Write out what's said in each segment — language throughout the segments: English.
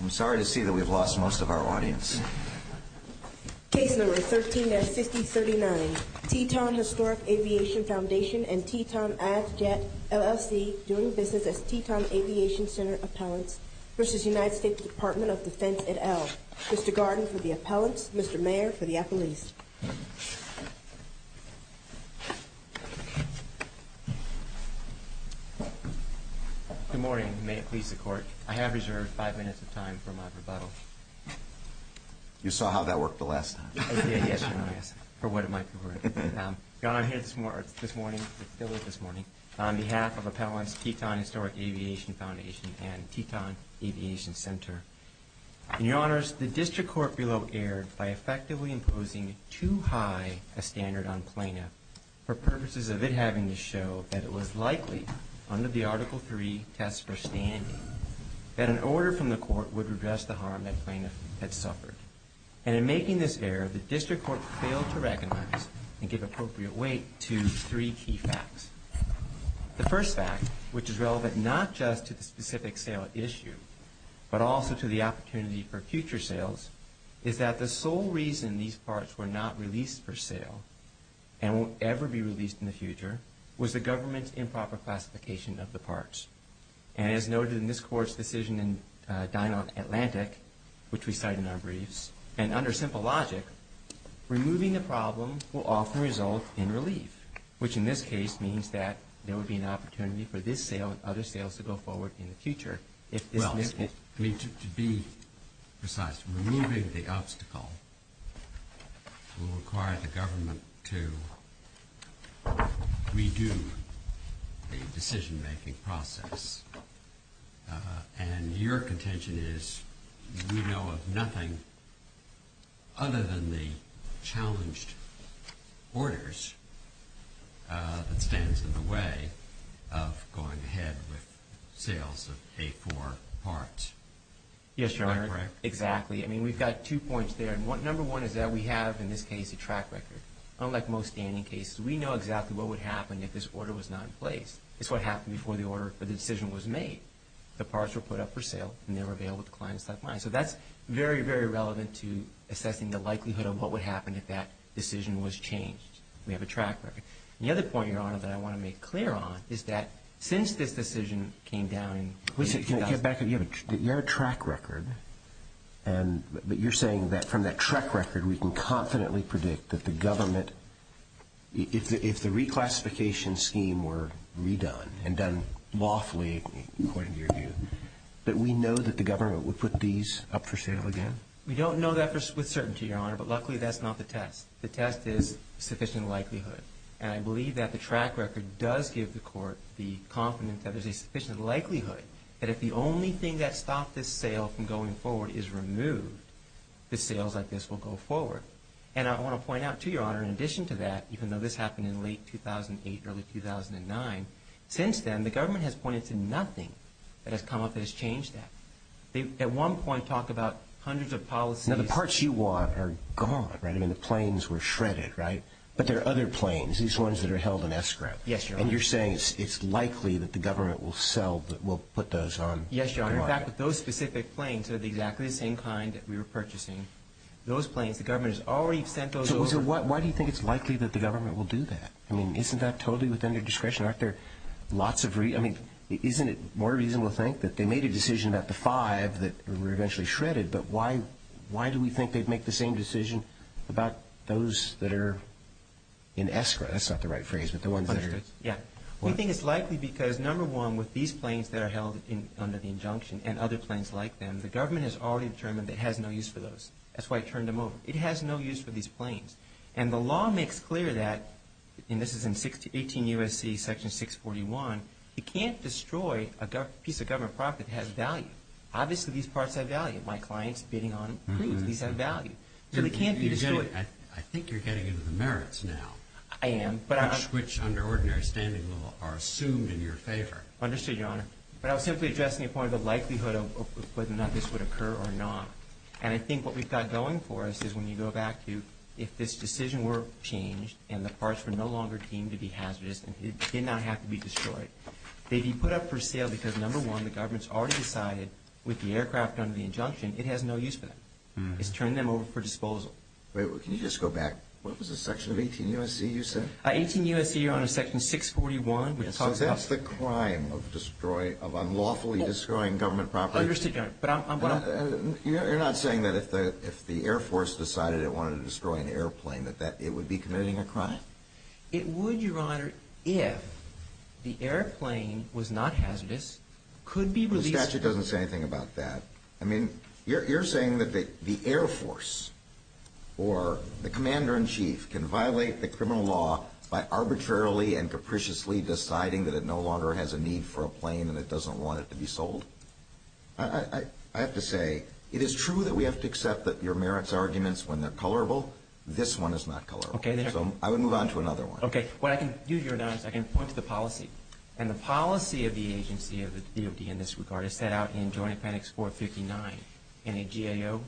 I'm sorry to see that we've lost most of our audience. Case number 13-5039, Teton Historic Aviation Foundation and Teton Adjet LLC doing business as Teton Aviation Center appellants v. United States Department of Defense, et al. Mr. Garden for the appellants, Mr. Mayer for the appellees. Good morning. May it please the Court. I have reserved five minutes of time for my rebuttal. You saw how that worked the last time. Yes, for what it might be worth. I'm here this morning on behalf of Appellants Teton Historic Aviation Foundation and Teton Aviation Center. In your honors, the district court below erred by effectively imposing too high a standard on plaintiff for purposes of it having to show that it was likely, under the Article III test for standing, that an order from the court would redress the harm that plaintiff had suffered. And in making this error, the district court failed to recognize and give appropriate weight to three key facts. The first fact, which is relevant not just to the specific sale issue, but also to the opportunity for future sales, is that the sole reason these parts were not released for sale and won't ever be released in the future was the government's improper classification of the parts. And as noted in this Court's decision in Dinant Atlantic, which we cite in our briefs, and under simple logic, removing the problem will often result in relief, which in this case means that there will be an opportunity for this sale and other sales to go forward in the future. Well, to be precise, removing the obstacle will require the government to redo the decision-making process. And your contention is we know of nothing other than the challenged orders that stands in the way of going ahead with sales of K-4 parts. Yes, Your Honor. Is that correct? Exactly. I mean, we've got two points there. Number one is that we have, in this case, a track record. Unlike most standing cases, we know exactly what would happen if this order was not in place. It's what happened before the order or the decision was made. The parts were put up for sale and they were available to clients left behind. So that's very, very relevant to assessing the likelihood of what would happen if that decision was changed. We have a track record. And the other point, Your Honor, that I want to make clear on is that since this decision came down in 2000 Listen, can I get back on you? You have a track record, but you're saying that from that track record we can confidently predict that the government, if the reclassification scheme were redone and done lawfully, according to your view, that we know that the government would put these up for sale again? We don't know that with certainty, Your Honor, but luckily that's not the test. The test is sufficient likelihood. And I believe that the track record does give the court the confidence that there's a sufficient likelihood that if the only thing that stopped this sale from going forward is removed, the sales like this will go forward. And I want to point out to Your Honor, in addition to that, even though this happened in late 2008, early 2009, since then the government has pointed to nothing that has come up that has changed that. They, at one point, talk about hundreds of policies. Now, the parts you want are gone, right? I mean, the planes were shredded, right? But there are other planes, these ones that are held in escrow. Yes, Your Honor. And you're saying it's likely that the government will put those on the market. Yes, Your Honor. In fact, those specific planes are exactly the same kind that we were purchasing. Those planes, the government has already sent those over. So why do you think it's likely that the government will do that? I mean, isn't that totally within their discretion? Aren't there lots of reasons? I mean, isn't it more reasonable to think that they made a decision about the five that were eventually shredded, but why do we think they'd make the same decision about those that are in escrow? That's not the right phrase, but the ones that are in escrow. Yeah. We think it's likely because, number one, with these planes that are held under the injunction and other planes like them, the government has already determined that it has no use for those. That's why it turned them over. It has no use for these planes. And the law makes clear that, and this is in 18 U.S.C. section 641, you can't destroy a piece of government property that has value. Obviously, these parts have value. My client's bidding on them. Please, these have value. So they can't be destroyed. I think you're getting into the merits now. I am. Which under ordinary standing law are assumed in your favor. Understood, Your Honor. But I was simply addressing the point of the likelihood of whether or not this would occur or not. And I think what we've got going for us is when you go back to if this decision were changed and the parts were no longer deemed to be hazardous and did not have to be destroyed, they'd be put up for sale because, number one, the government's already decided, with the aircraft under the injunction, it has no use for them. It's turned them over for disposal. Wait, can you just go back? What was the section of 18 U.S.C. you said? 18 U.S.C. under section 641. So that's the crime of unlawfully destroying government property. Understood, Your Honor. You're not saying that if the Air Force decided it wanted to destroy an airplane that it would be committing a crime? It would, Your Honor, if the airplane was not hazardous, could be released. The statute doesn't say anything about that. I mean, you're saying that the Air Force or the Commander-in-Chief can violate the criminal law by arbitrarily and capriciously deciding that it no longer has a need for a plane and it doesn't want it to be sold? I have to say it is true that we have to accept that your merits arguments, when they're colorable, this one is not colorable. So I would move on to another one. Okay. What I can do, Your Honor, is I can point to the policy, and the policy of the agency of the DOD in this regard is set out in Joint Appendix 459 in a GAO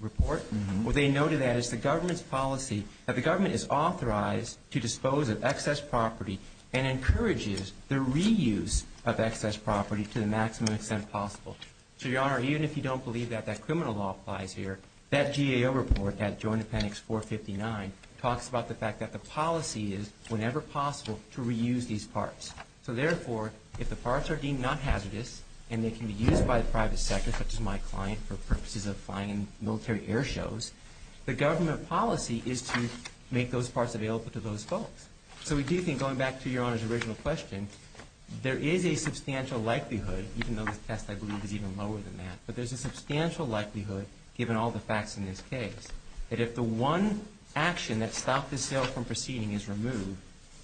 report. They noted that it's the government's policy that the government is authorized to dispose of excess property and encourages the reuse of excess property to the maximum extent possible. So, Your Honor, even if you don't believe that that criminal law applies here, that GAO report at Joint Appendix 459 talks about the fact that the policy is whenever possible to reuse these parts. So therefore, if the parts are deemed not hazardous and they can be used by the private sector, such as my client, for purposes of flying in military air shows, the government policy is to make those parts available to those folks. So we do think, going back to Your Honor's original question, there is a substantial likelihood, even though the test I believe is even lower than that, but there's a substantial likelihood, given all the facts in this case, that if the one action that stopped the sale from proceeding is removed,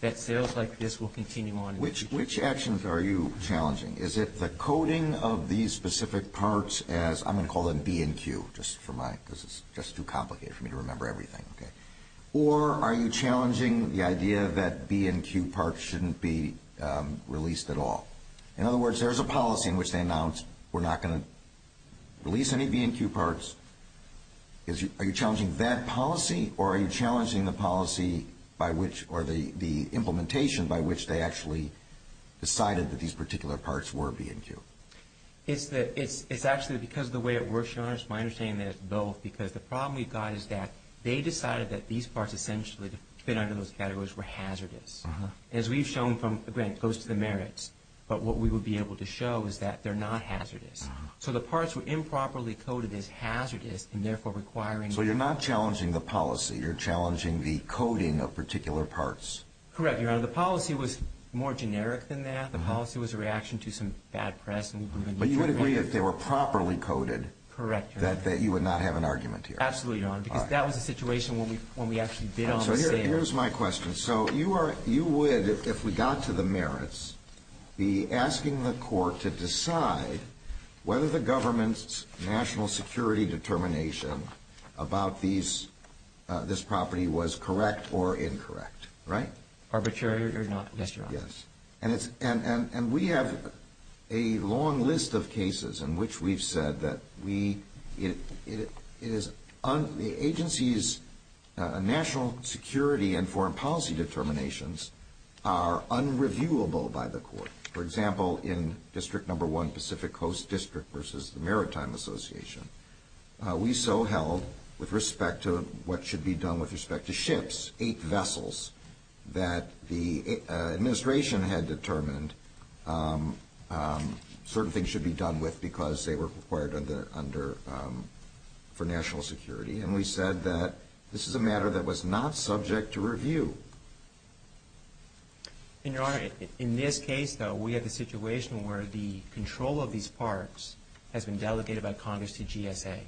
that sales like this will continue on. Which actions are you challenging? Is it the coding of these specific parts as, I'm going to call them B and Q, just for my, because it's just too complicated for me to remember everything. Or are you challenging the idea that B and Q parts shouldn't be released at all? In other words, there's a policy in which they announced we're not going to release any B and Q parts. Are you challenging that policy or are you challenging the policy by which, or the implementation by which they actually decided that these particular parts were B and Q? It's actually because of the way it works, Your Honor. It's my understanding that it's both because the problem we've got is that they decided that these parts essentially fit under those categories were hazardous. As we've shown from, again, it goes to the merits, but what we would be able to show is that they're not hazardous. So the parts were improperly coded as hazardous and therefore requiring. So you're not challenging the policy. You're challenging the coding of particular parts. Correct, Your Honor. The policy was more generic than that. The policy was a reaction to some bad press. But you would agree if they were properly coded that you would not have an argument here. Absolutely, Your Honor, because that was a situation when we actually bid on the sale. So here's my question. So you would, if we got to the merits, be asking the court to decide whether the government's national security determination about this property was correct or incorrect, right? Arbitrary or not, yes, Your Honor. Yes. And we have a long list of cases in which we've said that the agency's national security and foreign policy determinations are unreviewable by the court. For example, in District No. 1 Pacific Coast District versus the Maritime Association, we so held with respect to what should be done with respect to ships, eight vessels that the administration had determined certain things should be done with because they were required for national security. And we said that this is a matter that was not subject to review. And, Your Honor, in this case, though, we have a situation where the control of these parks has been delegated by Congress to GSA,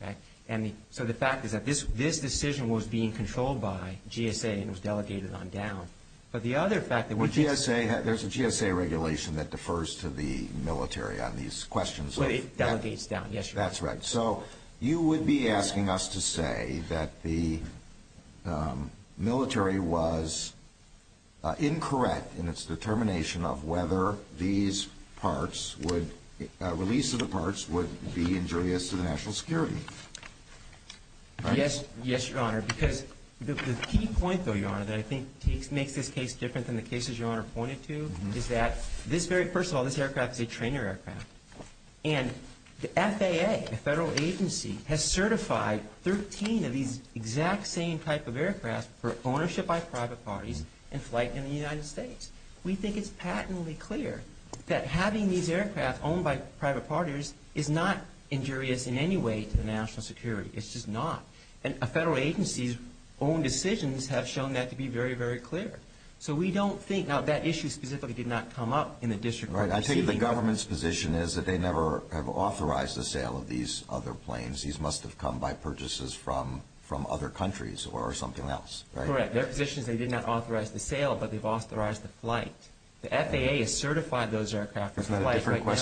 right? And so the fact is that this decision was being controlled by GSA and was delegated on down. But the other fact that we just say that there's a GSA regulation that defers to the military on these questions. But it delegates down, yes, Your Honor. That's right. So you would be asking us to say that the military was incorrect in its determination of whether these parks would release of the parks would be injurious to the national security. Yes. Yes, Your Honor. Because the key point, though, Your Honor, that I think makes this case different than the cases Your Honor pointed to is that this very first of all, this aircraft is a trainer aircraft. And the FAA, the federal agency, has certified 13 of these exact same type of aircraft for ownership by private parties and flight in the United States. We think it's patently clear that having these aircraft owned by private parties is not injurious in any way to the national security. It's just not. And a federal agency's own decisions have shown that to be very, very clear. So we don't think now that issue specifically did not come up in the district court proceeding. Right. I take it the government's position is that they never have authorized the sale of these other planes. These must have come by purchases from other countries or something else, right? Correct. Their position is they did not authorize the sale, but they've authorized the flight. The FAA has certified those aircraft for flight right now.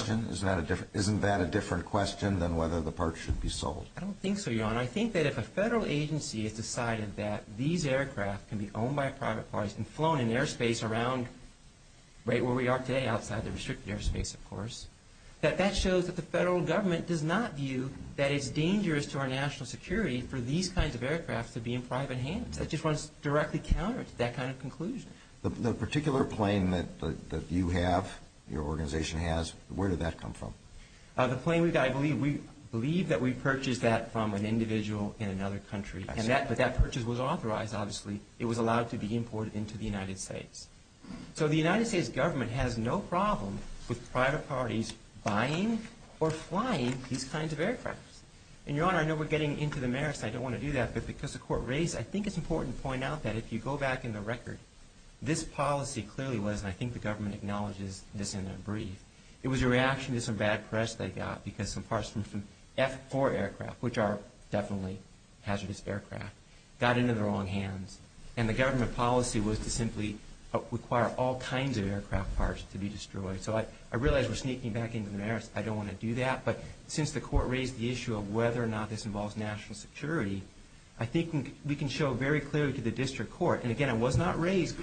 Isn't that a different question than whether the parks should be sold? I don't think so, Your Honor. I think that if a federal agency has decided that these aircraft can be owned by private parties and flown in airspace around right where we are today outside the restricted airspace, of course, that that shows that the federal government does not view that it's dangerous to our national security for these kinds of aircraft to be in private hands. That just runs directly counter to that kind of conclusion. The particular plane that you have, your organization has, where did that come from? The plane we've got, I believe that we purchased that from an individual in another country. I see. But that purchase was authorized, obviously. It was allowed to be imported into the United States. So the United States government has no problem with private parties buying or flying these kinds of aircrafts. And, Your Honor, I know we're getting into the merits. I don't want to do that. But because the Court raised, I think it's important to point out that if you go back in the record, this policy clearly was, and I think the government acknowledges this in their brief, it was a reaction to some bad press they got because some parts from F-4 aircraft, which are definitely hazardous aircraft, got into the wrong hands. And the government policy was to simply require all kinds of aircraft parts to be destroyed. So I realize we're sneaking back into the merits. I don't want to do that. But since the Court raised the issue of whether or not this involves national security, I think we can show very clearly to the district court, and again, it was not raised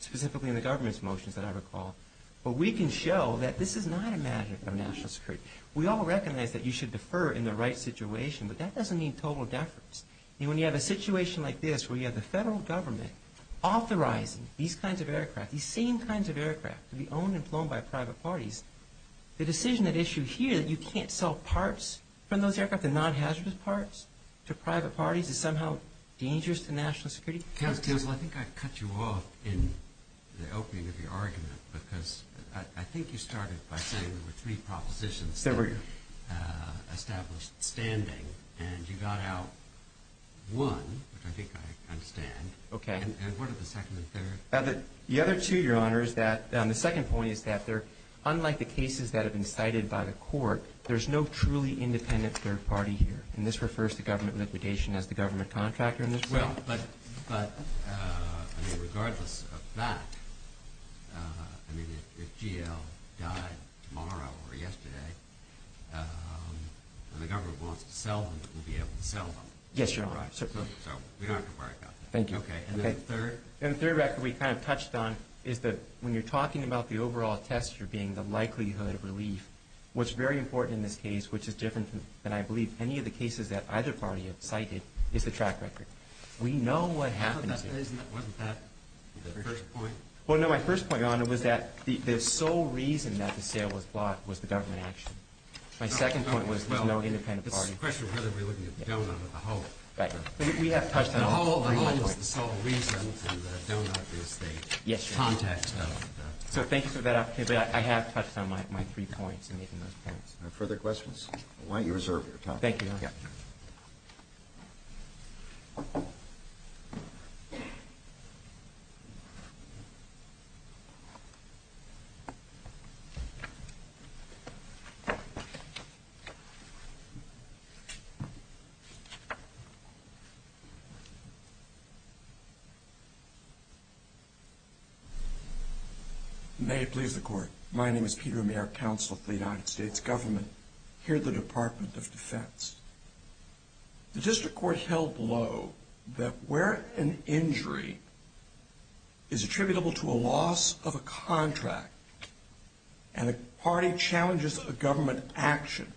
specifically in the government's motions that I recall, but we can show that this is not a matter of national security. We all recognize that you should defer in the right situation, but that doesn't mean total deference. When you have a situation like this where you have the federal government authorizing these kinds of aircraft, these same kinds of aircraft to be owned and flown by private parties, the decision at issue here that you can't sell parts from those aircraft, the non-hazardous parts, to private parties is somehow dangerous to national security. Counsel, I think I'd cut you off in the opening of your argument because I think you started by saying there were three propositions that were established standing. And you got out one, which I think I understand. Okay. And what are the second and third? The other two, Your Honor, is that the second point is that unlike the cases that have been cited by the Court, there's no truly independent third party here. And this refers to government liquidation as the government contractor in this case. Well, but regardless of that, I mean, if GL died tomorrow or yesterday, and the government wants to sell them, we'll be able to sell them. Yes, Your Honor. Right. So we don't have to worry about that. Thank you. Okay. And then the third? And the third record we kind of touched on is that when you're talking about the overall test, you're being the likelihood of relief, what's very important in this case, which is different than I believe any of the cases that either party have cited, is the track record. We know what happened to it. Wasn't that the first point? Well, no, my first point, Your Honor, was that the sole reason that the sale was blocked was the government action. My second point was there's no independent party. This is a question of whether we're looking at the donut or the whole. Right. But we have touched on all three points. The whole, the whole is the sole reason, and the donut is the context. Yes, Your Honor. So thank you for that opportunity. But I have touched on my three points in making those points. Are there further questions? Why don't you reserve your time. Thank you, Your Honor. May it please the Court. My name is Peter Amir, Counsel of the United States Government here at the Department of Defense. The District Court held low that where an injury is attributable to a loss of a contract and a party challenges a government action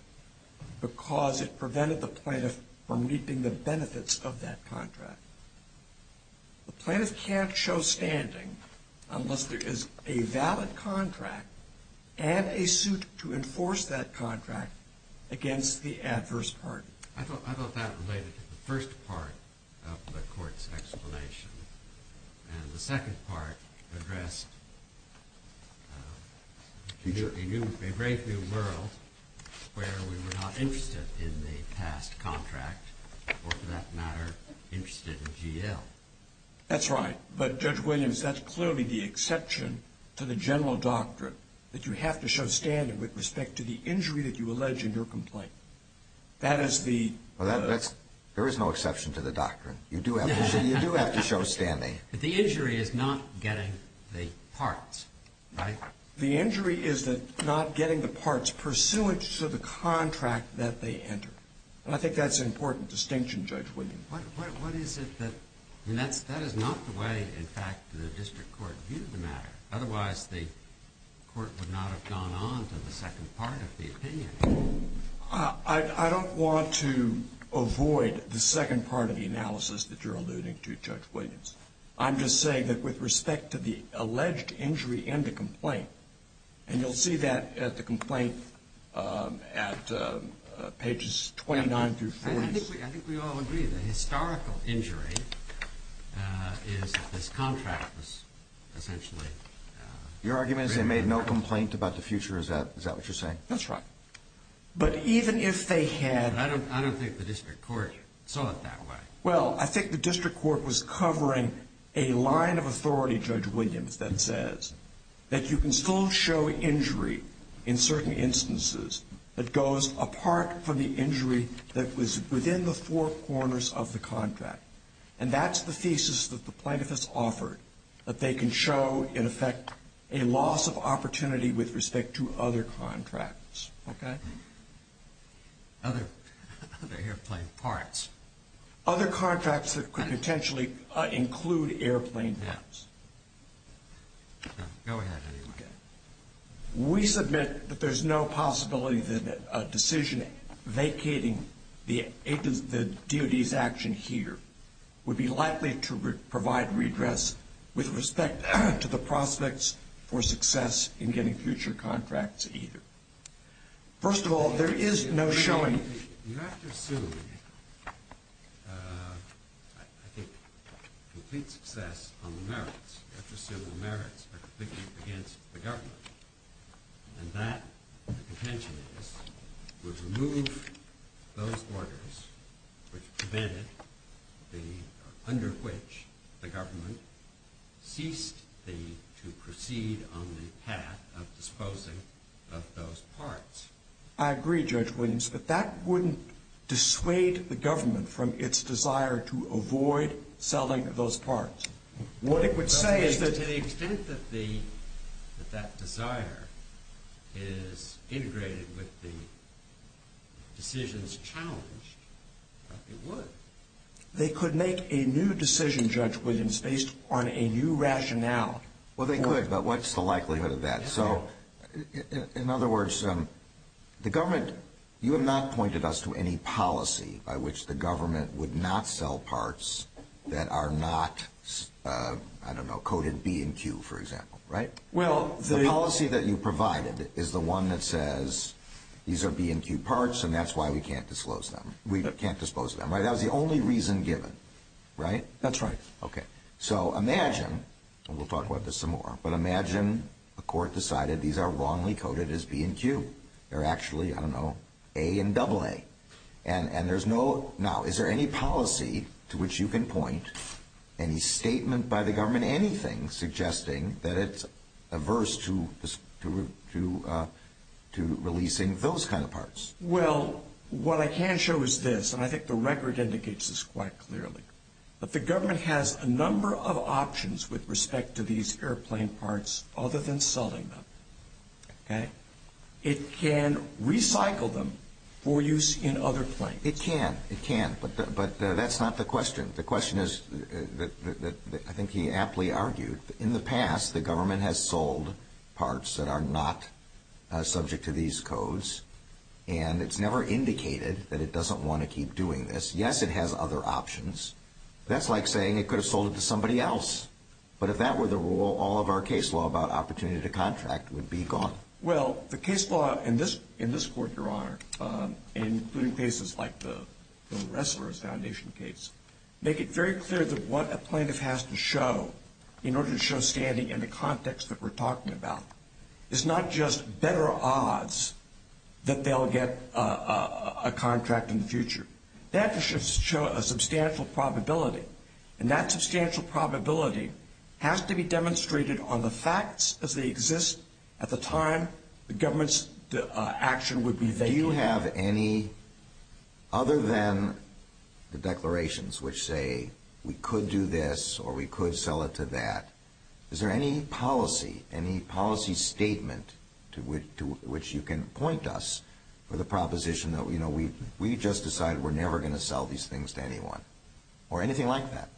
because it prevented the plaintiff from reaping the benefits of that contract, the plaintiff can't show standing unless there is a valid contract and a suit to enforce that contract against the adverse party. I thought that related to the first part of the Court's explanation. And the second part addressed a great new world where we were not interested in the past contract or, for that matter, interested in GL. That's right. But, Judge Williams, that's clearly the exception to the general doctrine that you have to show standing with respect to the injury that you allege in your complaint. That is the... Well, that's, there is no exception to the doctrine. You do have to show standing. But the injury is not getting the parts, right? The injury is not getting the parts pursuant to the contract that they enter. And I think that's an important distinction, Judge Williams. What is it that... I mean, that is not the way, in fact, the district court viewed the matter. Otherwise, the court would not have gone on to the second part of the opinion. I don't want to avoid the second part of the analysis that you're alluding to, Judge Williams. I'm just saying that with respect to the alleged injury in the complaint, and you'll see that at the complaint at pages 29 through 40. I think we all agree that historical injury is that this contract was essentially... Your argument is they made no complaint about the future. Is that what you're saying? That's right. But even if they had... I don't think the district court saw it that way. Well, I think the district court was covering a line of authority, Judge Williams, that says that you can still show injury in certain instances that goes apart from the injury that was within the four corners of the contract. And that's the thesis that the plaintiff has offered, that they can show, in effect, a loss of opportunity with respect to other contracts. Okay? Other airplane parts. Other contracts that could potentially include airplane parts. Go ahead. We submit that there's no possibility that a decision vacating the DOD's action here would be likely to provide redress with respect to the prospects for success in getting future contracts either. First of all, there is no showing... You have to assume, I think, complete success on the merits. You have to assume the merits are completely against the government. And that, the contention is, would remove those orders which prevented the... under which the government ceased to proceed on the path of disposing of those parts. I agree, Judge Williams, but that wouldn't dissuade the government from its desire to avoid selling those parts. What it would say is that... To the extent that that desire is integrated with the decisions challenged, it would. They could make a new decision, Judge Williams, based on a new rationale. Well, they could, but what's the likelihood of that? In other words, the government... You have not pointed us to any policy by which the government would not sell parts that are not, I don't know, coded B and Q, for example, right? The policy that you provided is the one that says these are B and Q parts and that's why we can't dispose of them. That was the only reason given, right? That's right. Okay, so imagine, and we'll talk about this some more, but imagine the court decided these are wrongly coded as B and Q. They're actually, I don't know, A and AA. And there's no... Now, is there any policy to which you can point, any statement by the government, anything, suggesting that it's averse to releasing those kind of parts? Well, what I can show is this, and I think the record indicates this quite clearly. That the government has a number of options with respect to these airplane parts other than selling them, okay? It can recycle them for use in other planes. It can, it can, but that's not the question. The question is, I think he aptly argued, in the past the government has sold parts that are not subject to these codes, and it's never indicated that it doesn't want to keep doing this. Yes, it has other options. That's like saying it could have sold it to somebody else. But if that were the rule, all of our case law about opportunity to contract would be gone. Well, the case law in this court, Your Honor, including cases like the Ressler Foundation case, make it very clear that what a plaintiff has to show in order to show standing in the context that we're talking about is not just better odds that they'll get a contract in the future. They have to show a substantial probability, and that substantial probability has to be demonstrated on the facts as they exist at the time the government's action would be valid. Do you have any, other than the declarations which say, we could do this or we could sell it to that, is there any policy, any policy statement to which you can point us with a proposition that we just decided we're never going to sell these things to anyone or anything like that?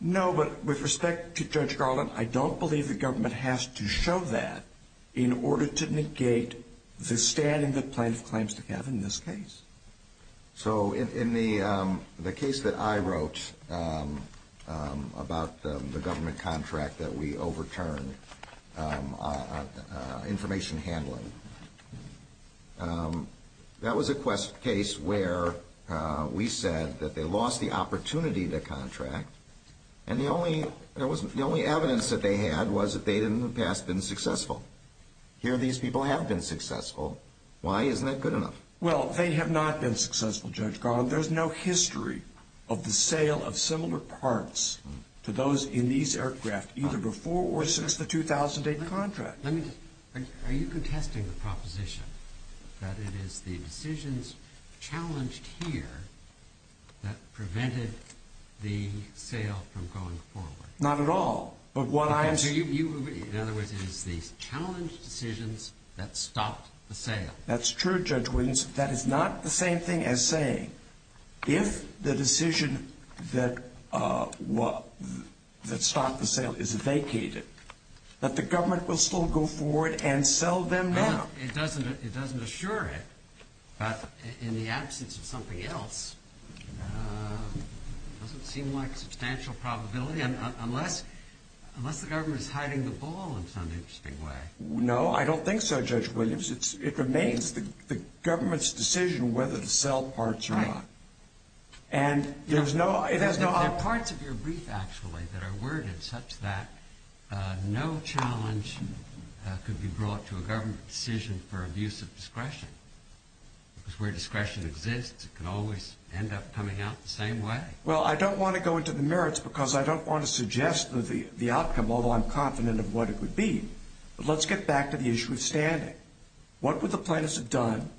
No, but with respect to Judge Garland, I don't believe the government has to show that in order to negate the standing that plaintiffs claims to have in this case. So in the case that I wrote about the government contract that we overturned, information handling, that was a case where we said that they lost the opportunity to contract, and the only evidence that they had was that they hadn't in the past been successful. Here, these people have been successful. Why isn't that good enough? Well, they have not been successful, Judge Garland. There's no history of the sale of similar parts to those in these aircraft, either before or since the 2008 contract. Are you contesting the proposition that it is the decisions challenged here that prevented the sale from going forward? Not at all. In other words, it is the challenged decisions that stopped the sale. That's true, Judge Williams. That is not the same thing as saying if the decision that stopped the sale is vacated, that the government will still go forward and sell them now. It doesn't assure it. But in the absence of something else, it doesn't seem like a substantial probability, unless the government is hiding the ball in some interesting way. No, I don't think so, Judge Williams. It remains the government's decision whether to sell parts or not. There are parts of your brief, actually, that are worded such that no challenge could be brought to a government decision for abuse of discretion. Because where discretion exists, it can always end up coming out the same way. Well, I don't want to go into the merits because I don't want to suggest the outcome, although I'm confident of what it would be. But let's get back to the issue of standing. What would the plaintiffs have done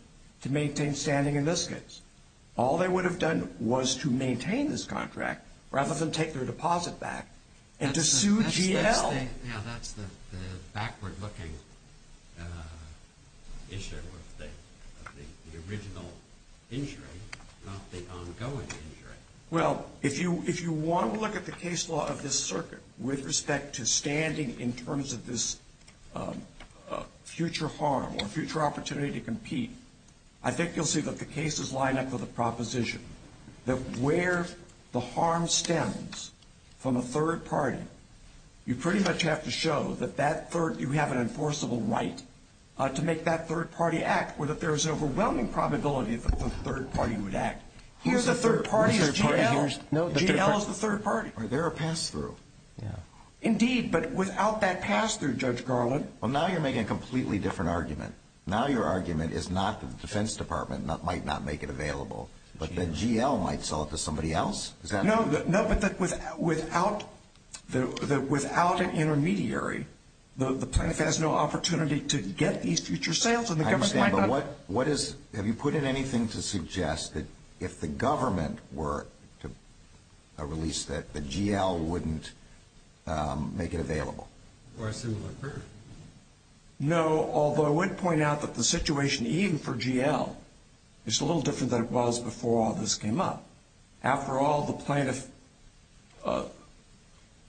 to maintain standing in this case? All they would have done was to maintain this contract rather than take their deposit back and to sue GL. That's the backward-looking issue of the original injury, not the ongoing injury. Well, if you want to look at the case law of this circuit with respect to standing in terms of this future harm or future opportunity to compete, I think you'll see that the cases line up with a proposition that where the harm stems from a third party, you pretty much have to show that you have an enforceable right to make that third party act or that there is an overwhelming probability that the third party would act. Here the third party is GL. GL is the third party. Are there a pass-through? Indeed, but without that pass-through, Judge Garland. Well, now you're making a completely different argument. Now your argument is not that the Defense Department might not make it available, but that GL might sell it to somebody else? No, but without an intermediary, the plaintiff has no opportunity to get these future sales and the government might not. I understand, but have you put in anything to suggest that if the government were to release that, that GL wouldn't make it available? Or a similar proof? No, although I would point out that the situation, even for GL, is a little different than it was before all this came up. After all, the plaintiff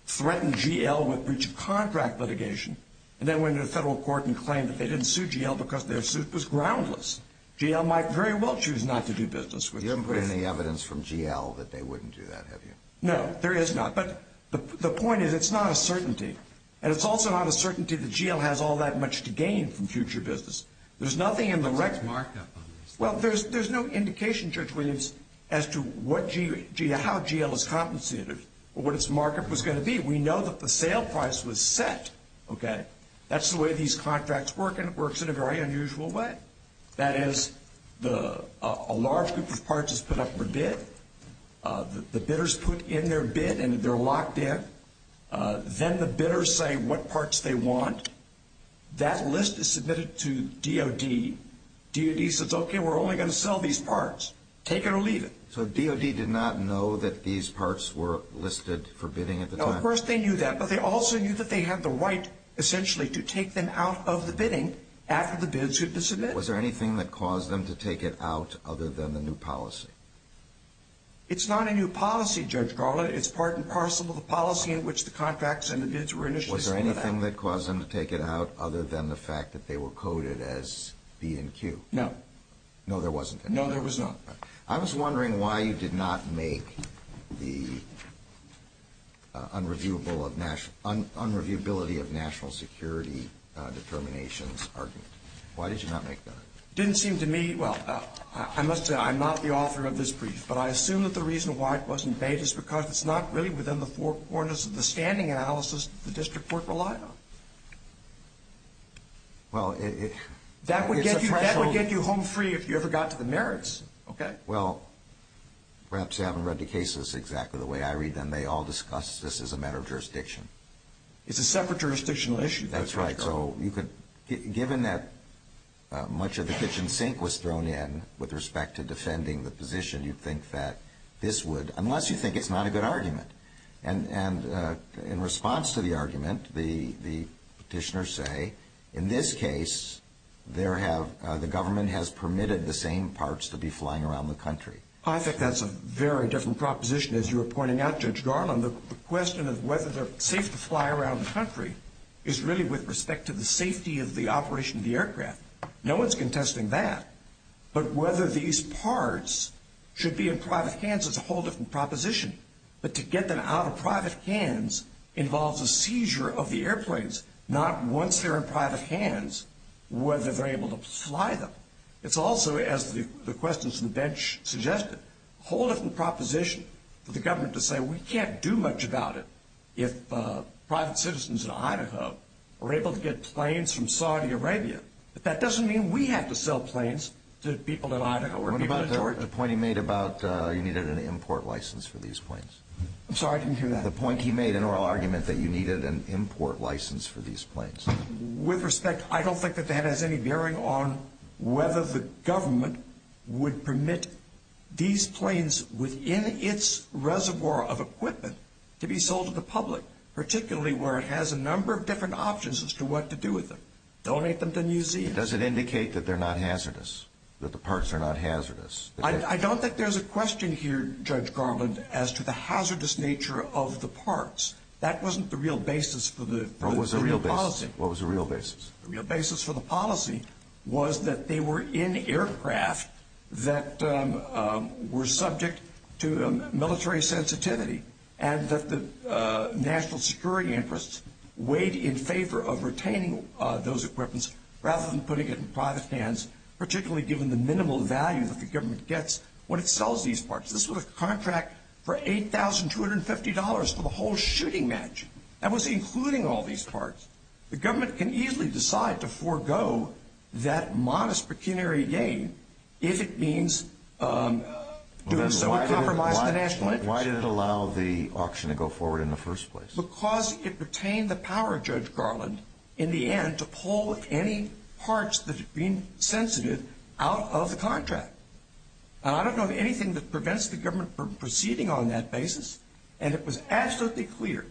threatened GL with breach of contract litigation and then went into federal court and claimed that they didn't sue GL because their suit was groundless. GL might very well choose not to do business with you. You haven't put any evidence from GL that they wouldn't do that, have you? No, there is not. But the point is, it's not a certainty. And it's also not a certainty that GL has all that much to gain from future business. There's nothing in the record. What's the markup on this? Well, there's no indication, Judge Williams, as to how GL is compensated or what its markup was going to be. We know that the sale price was set. That's the way these contracts work, and it works in a very unusual way. That is, a large group of parts is put up for bid. The bidders put in their bid, and they're locked in. Then the bidders say what parts they want. That list is submitted to DOD. DOD says, okay, we're only going to sell these parts. Take it or leave it. So DOD did not know that these parts were listed for bidding at the time? No, of course they knew that, but they also knew that they had the right, essentially, to take them out of the bidding after the bids had been submitted. Was there anything that caused them to take it out other than the new policy? It's not a new policy, Judge Garland. It's part and parcel of the policy in which the contracts and the bids were initially submitted. Was there anything that caused them to take it out other than the fact that they were coded as B and Q? No. No, there wasn't. No, there was not. I was wondering why you did not make the unreviewability of national security determinations argument. Why did you not make that? It didn't seem to me, well, I must say I'm not the author of this brief, but I assume that the reason why it wasn't made is because it's not really within the four corners of the standing analysis the district court relied on. Well, it's a threshold. That would get you home free if you ever got to the merits, okay? Well, perhaps you haven't read the cases exactly the way I read them. They all discuss this as a matter of jurisdiction. It's a separate jurisdictional issue, Judge Garland. That's right. So given that much of the kitchen sink was thrown in with respect to defending the position, you'd think that this would, unless you think it's not a good argument, and in response to the argument the petitioners say, in this case the government has permitted the same parts to be flying around the country. I think that's a very different proposition. As you were pointing out, Judge Garland, the question of whether they're safe to fly around the country is really with respect to the safety of the operation of the aircraft. No one's contesting that. But whether these parts should be in private hands is a whole different proposition. But to get them out of private hands involves a seizure of the airplanes, not once they're in private hands whether they're able to fly them. It's also, as the questions from the bench suggested, a whole different proposition for the government to say, we can't do much about it if private citizens in Idaho are able to get planes from Saudi Arabia. But that doesn't mean we have to sell planes to people in Idaho or people in Georgia. What about the point he made about you needed an import license for these planes? I'm sorry, I didn't hear that. The point he made in oral argument that you needed an import license for these planes. With respect, I don't think that that has any bearing on whether the government would permit these planes within its reservoir of equipment to be sold to the public, particularly where it has a number of different options as to what to do with them. Donate them to museums. Does it indicate that they're not hazardous, that the parts are not hazardous? I don't think there's a question here, Judge Garland, as to the hazardous nature of the parts. That wasn't the real basis for the policy. What was the real basis? The real basis for the policy was that they were in aircraft that were subject to military sensitivity and that the national security interests weighed in favor of retaining those equipments rather than putting it in private hands, particularly given the minimal value that the government gets when it sells these parts. This was a contract for $8,250 for the whole shooting match. That was including all these parts. The government can easily decide to forego that modest pecuniary gain if it means doing some compromise in the national interest. Why did it allow the auction to go forward in the first place? Because it retained the power, Judge Garland, in the end to pull any parts that had been sensitive out of the contract. I don't know of anything that prevents the government from proceeding on that basis, and it was absolutely clear,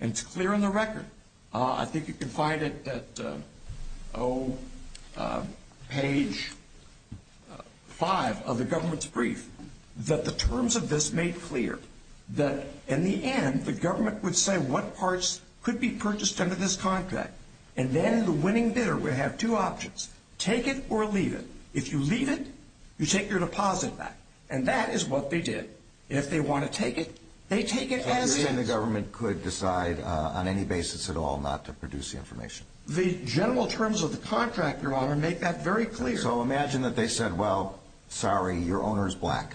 and it's clear on the record. I think you can find it at page 5 of the government's brief, that the terms of this made clear that in the end the government would say what parts could be purchased under this contract, and then the winning bidder would have two options, take it or leave it. If you leave it, you take your deposit back, and that is what they did. If they want to take it, they take it as is. So you're saying the government could decide on any basis at all not to produce the information? The general terms of the contract, Your Honor, make that very clear. So imagine that they said, well, sorry, your owner is black.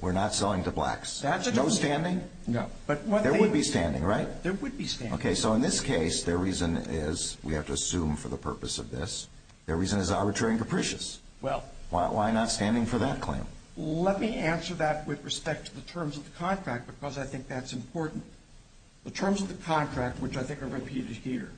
We're not selling to blacks. No standing? No. There would be standing, right? There would be standing. Okay, so in this case, their reason is, we have to assume for the purpose of this, their reason is arbitrary and capricious. Why not standing for that claim? Let me answer that with respect to the terms of the contract, because I think that's important. The terms of the contract, which I think are repeated here,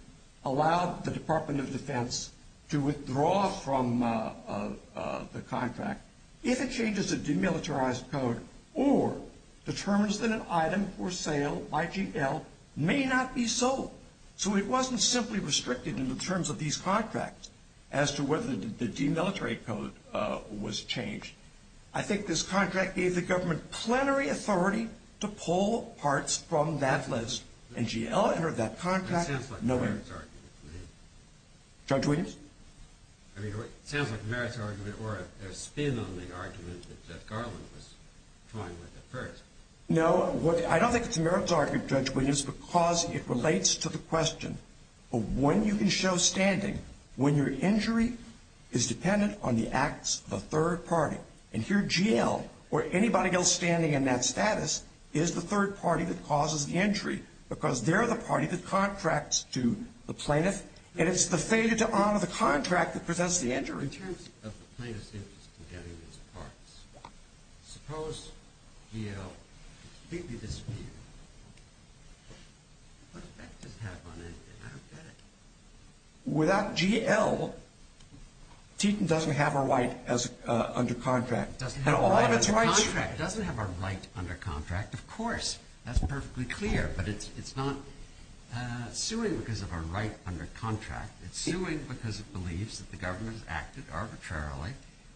allow the Department of Defense to withdraw from the contract if it changes a demilitarized code or determines that an item for sale by GL may not be sold. So it wasn't simply restricted in the terms of these contracts as to whether the demilitarized code was changed. I think this contract gave the government plenary authority to pull parts from that list. And GL entered that contract. That sounds like Merritt's argument to me. Judge Williams? I mean, it sounds like Merritt's argument or a spin on the argument that Jeff Garland was trying with at first. No, I don't think it's Merritt's argument, Judge Williams, because it relates to the question of when you can show standing when your injury is dependent on the acts of a third party. And here GL or anybody else standing in that status is the third party that causes the injury because they're the party that contracts to the plaintiff, and it's the failure to honor the contract that presents the injury. In terms of the plaintiff's interest in getting these parts, suppose GL completely disappeared. What effect does it have on anything? I don't get it. Without GL, Teton doesn't have a right under contract. It doesn't have a right under contract. It doesn't have a right under contract, of course. That's perfectly clear, but it's not suing because of a right under contract. It's suing because it believes that the government has acted arbitrarily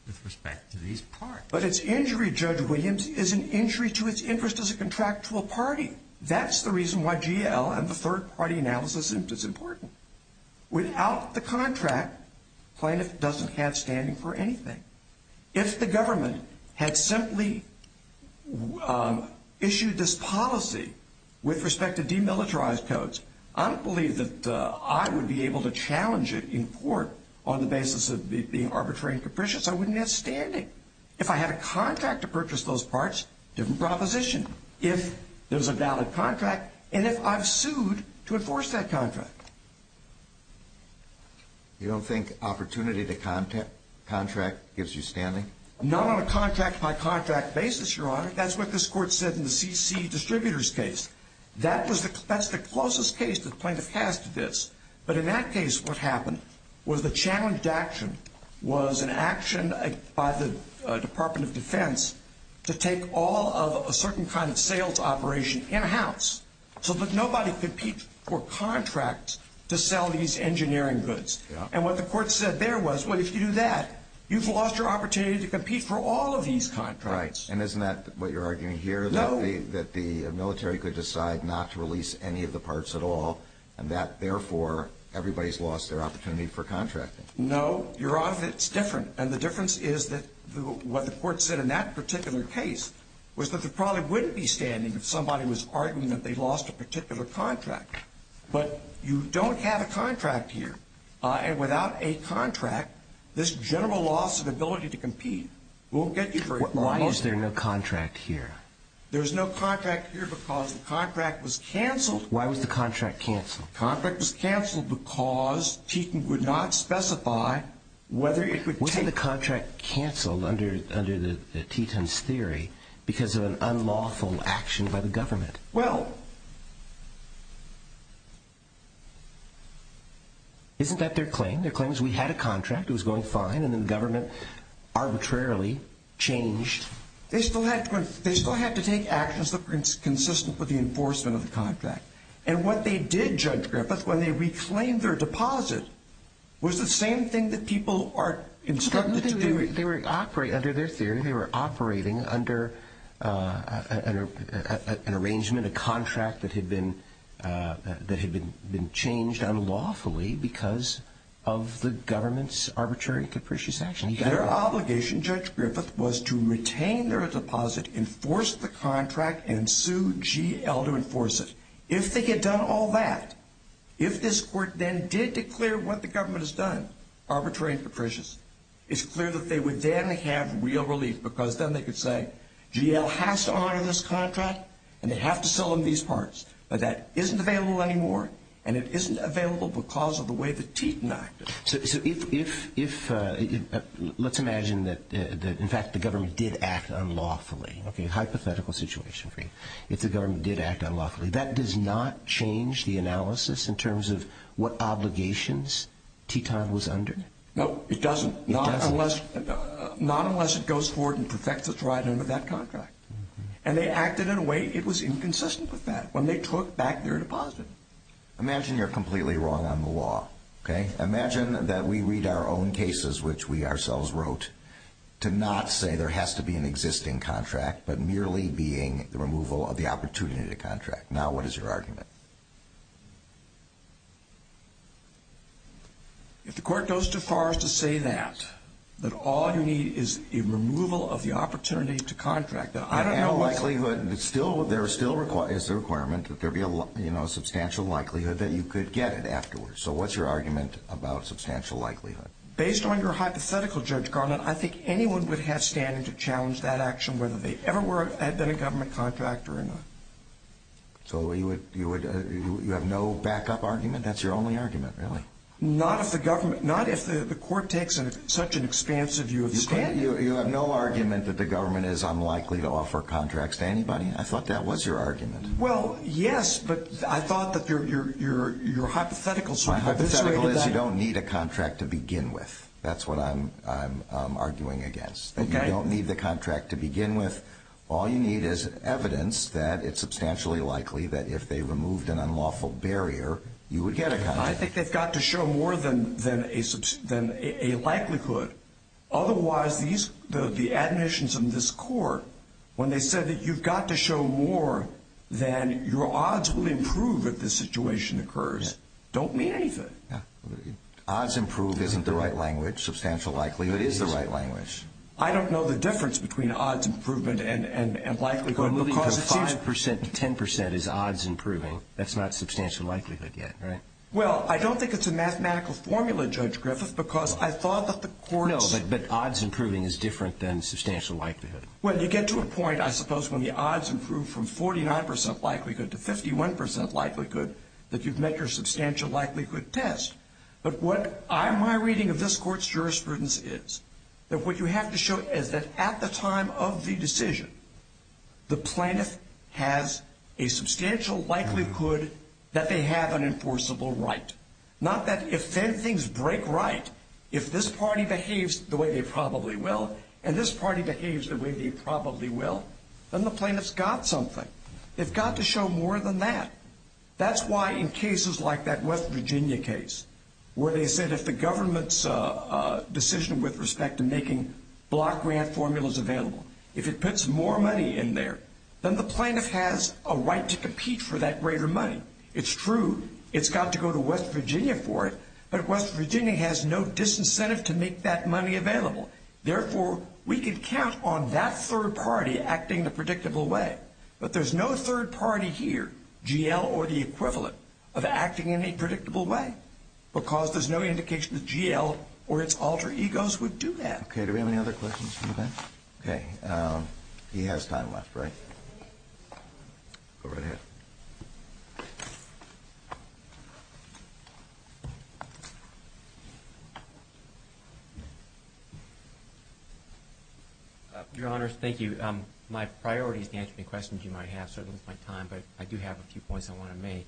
with respect to these parts. But its injury, Judge Williams, is an injury to its interest as a contractual party. That's the reason why GL and the third-party analysis is important. Without the contract, plaintiff doesn't have standing for anything. If the government had simply issued this policy with respect to demilitarized codes, I don't believe that I would be able to challenge it in court on the basis of it being arbitrary and capricious. I wouldn't have standing. If I had a contract to purchase those parts, different proposition. If there's a valid contract, and if I've sued to enforce that contract. You don't think opportunity to contract gives you standing? Not on a contract-by-contract basis, Your Honor. That's what this court said in the CC distributors case. That's the closest case the plaintiff has to this. But in that case, what happened was the challenge to action was an action by the Department of Defense to take all of a certain kind of sales operation in-house, so that nobody could compete for contracts to sell these engineering goods. And what the court said there was, well, if you do that, you've lost your opportunity to compete for all of these contracts. Right. And isn't that what you're arguing here? No. That the military could decide not to release any of the parts at all, and that, therefore, everybody's lost their opportunity for contracting. No. Your Honor, it's different. And the difference is that what the court said in that particular case was that there probably wouldn't be standing if somebody was arguing that they lost a particular contract. But you don't have a contract here. And without a contract, this general loss of ability to compete won't get you very far. Why is there no contract here? There's no contract here because the contract was canceled. Why was the contract canceled? The contract was canceled because Teton would not specify whether it could take... Wasn't the contract canceled under Teton's theory because of an unlawful action by the government? Well... Isn't that their claim? Their claim is we had a contract, it was going fine, and then the government arbitrarily changed... They still had to take actions that were consistent with the enforcement of the contract. And what they did, Judge Griffith, when they reclaimed their deposit, was the same thing that people are instructed to do. They were operating under their theory. They were operating under an arrangement, a contract that had been changed unlawfully because of the government's arbitrary and capricious action. Their obligation, Judge Griffith, was to retain their deposit, enforce the contract, and sue GL to enforce it. If they had done all that, if this court then did declare what the government has done, arbitrary and capricious, it's clear that they would then have real relief because then they could say, GL has to honor this contract and they have to sell them these parts. But that isn't available anymore, and it isn't available because of the way that Teton acted. So if... let's imagine that, in fact, the government did act unlawfully. Okay, hypothetical situation for you. If the government did act unlawfully, that does not change the analysis in terms of what obligations Teton was under? No, it doesn't. It doesn't. Not unless it goes forward and perfects its ride under that contract. And they acted in a way it was inconsistent with that when they took back their deposit. Imagine you're completely wrong on the law, okay? Imagine that we read our own cases, which we ourselves wrote, to not say there has to be an existing contract, but merely being the removal of the opportunity to contract. Now what is your argument? If the court goes too far as to say that, that all you need is a removal of the opportunity to contract, then I don't know what's... I have a likelihood, and it's still, there is still a requirement that there be a substantial likelihood that you could get it afterwards. So what's your argument about substantial likelihood? Based on your hypothetical, Judge Garland, I think anyone would have standing to challenge that action whether they ever had been a government contractor or not. So you have no backup argument? That's your only argument, really? Not if the court takes such an expansive view of standing. You have no argument that the government is unlikely to offer contracts to anybody. I thought that was your argument. Well, yes, but I thought that your hypothetical... My hypothetical is you don't need a contract to begin with. That's what I'm arguing against. You don't need the contract to begin with. All you need is evidence that it's substantially likely that if they removed an unlawful barrier, you would get a contract. I think they've got to show more than a likelihood. Otherwise, the admissions in this court, when they said that you've got to show more than your odds will improve if this situation occurs, don't mean anything. Odds improve isn't the right language. Substantial likelihood is the right language. I don't know the difference between odds improvement and likelihood because it seems... Well, moving from 5% to 10% is odds improving. That's not substantial likelihood yet, right? Well, I don't think it's a mathematical formula, Judge Griffith, because I thought that the courts... No, but odds improving is different than substantial likelihood. Well, you get to a point, I suppose, when the odds improve from 49% likelihood to 51% likelihood that you've met your substantial likelihood test. But my reading of this court's jurisprudence is that what you have to show is that at the time of the decision, the plaintiff has a substantial likelihood that they have an enforceable right. Not that if then things break right, if this party behaves the way they probably will and this party behaves the way they probably will, then the plaintiff's got something. They've got to show more than that. That's why in cases like that West Virginia case where they said if the government's decision with respect to making block grant formulas available, if it puts more money in there, then the plaintiff has a right to compete for that greater money. It's true. It's got to go to West Virginia for it. But West Virginia has no disincentive to make that money available. Therefore, we can count on that third party acting the predictable way. But there's no third party here, GL or the equivalent, of acting in a predictable way because there's no indication that GL or its alter egos would do that. Okay, do we have any other questions from the bench? Okay. He has time left, right? Go right ahead. Your Honors, thank you. My priority is to answer any questions you might have, certainly with my time, but I do have a few points I want to make.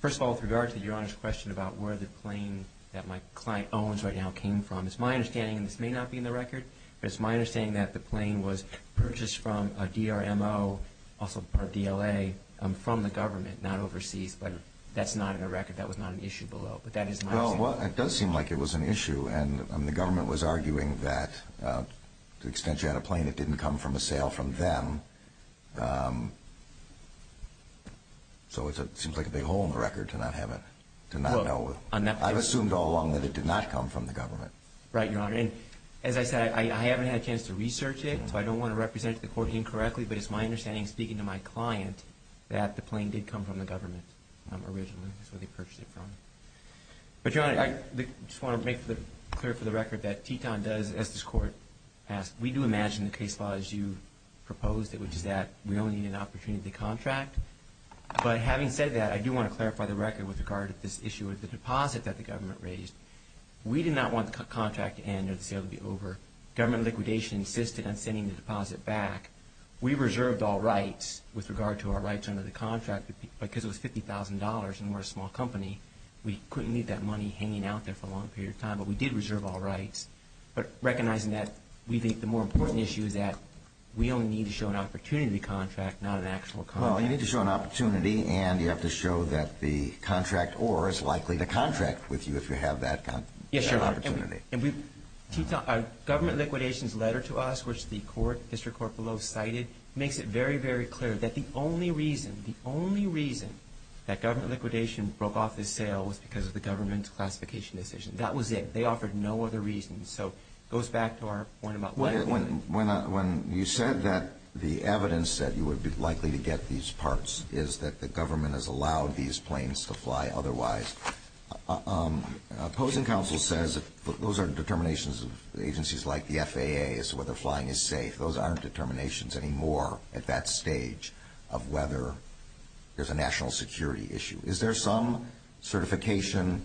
First of all, with regard to Your Honors' question about where the plane that my client owns right now came from, it's my understanding, and this may not be in the record, but it's my understanding that the plane was purchased from a DRMO, also part DLA, from the government, not overseas, but that's not in the record. That was not an issue below, but that is my understanding. Well, it does seem like it was an issue. And the government was arguing that to the extent you had a plane, it didn't come from a sale from them. So it seems like a big hole in the record to not have it, to not know. I've assumed all along that it did not come from the government. Right, Your Honor. And as I said, I haven't had a chance to research it, so I don't want to represent the court incorrectly, but it's my understanding, speaking to my client, that the plane did come from the government originally. That's where they purchased it from. But, Your Honor, I just want to make clear for the record that Teton does, as this Court asked, we do imagine the case law as you proposed it, which is that we only need an opportunity to contract. But having said that, I do want to clarify the record with regard to this issue of the deposit that the government raised. We did not want the contract to end or the sale to be over. Government liquidation insisted on sending the deposit back. We reserved all rights with regard to our rights under the contract because it was $50,000 and we're a small company. We couldn't leave that money hanging out there for a long period of time, but we did reserve all rights. But recognizing that, we think the more important issue is that we only need to show an opportunity to contract, not an actual contract. Well, you need to show an opportunity, and you have to show that the contract or is likely to contract with you if you have that opportunity. Yes, Your Honor. And we, Teton, our government liquidation's letter to us, which the court, District Court below cited, makes it very, very clear that the only reason, the only reason that government liquidation broke off this sale was because of the government's classification decision. That was it. They offered no other reason. So it goes back to our point about what? When you said that the evidence that you would be likely to get these parts is that the government has allowed these planes to fly otherwise, opposing counsel says those are determinations of agencies like the FAA as to whether flying is safe. Those aren't determinations anymore at that stage of whether there's a national security issue. Is there some certification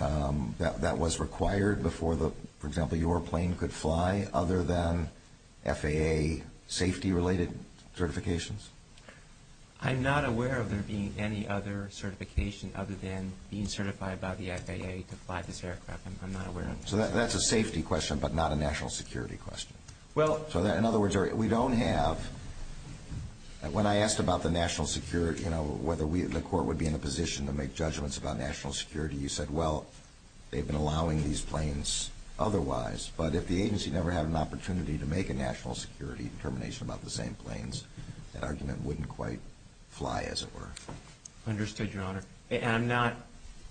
that was required before, for example, your plane could fly other than FAA safety-related certifications? I'm not aware of there being any other certification other than being certified by the FAA to fly this aircraft. I'm not aware of it. So that's a safety question but not a national security question. In other words, we don't have, when I asked about the national security, whether the court would be in a position to make judgments about national security, you said, well, they've been allowing these planes otherwise, but if the agency never had an opportunity to make a national security determination about the same planes, that argument wouldn't quite fly as it were. Understood, Your Honor. And I'm not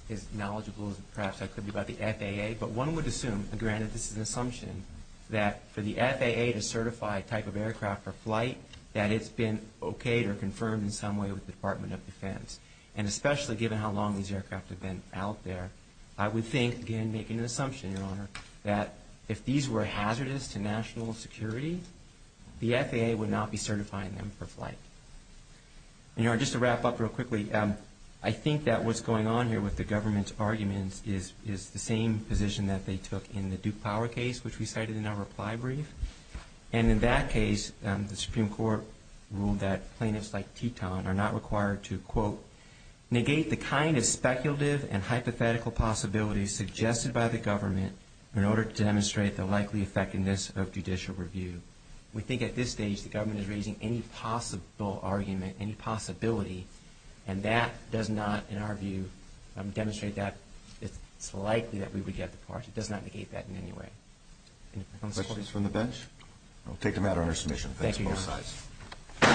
as knowledgeable as perhaps I could be about the FAA, but one would assume, granted this is an assumption, that for the FAA to certify a type of aircraft for flight, that it's been okayed or confirmed in some way with the Department of Defense. And especially given how long these aircraft have been out there, I would think, again, making an assumption, Your Honor, that if these were hazardous to national security, the FAA would not be certifying them for flight. And, Your Honor, just to wrap up real quickly, I think that what's going on here with the government's arguments is the same position that they took in the Duke Power case, which we cited in our reply brief. And in that case, the Supreme Court ruled that plaintiffs like Teton are not required to, quote, negate the kind of speculative and hypothetical possibilities suggested by the government in order to demonstrate the likely effectiveness of judicial review. We think at this stage the government is raising any possible argument, any possibility, and that does not, in our view, demonstrate that it's likely that we would get the parts. It does not negate that in any way. Any questions from the bench? We'll take a matter under submission. Thank you, Your Honor.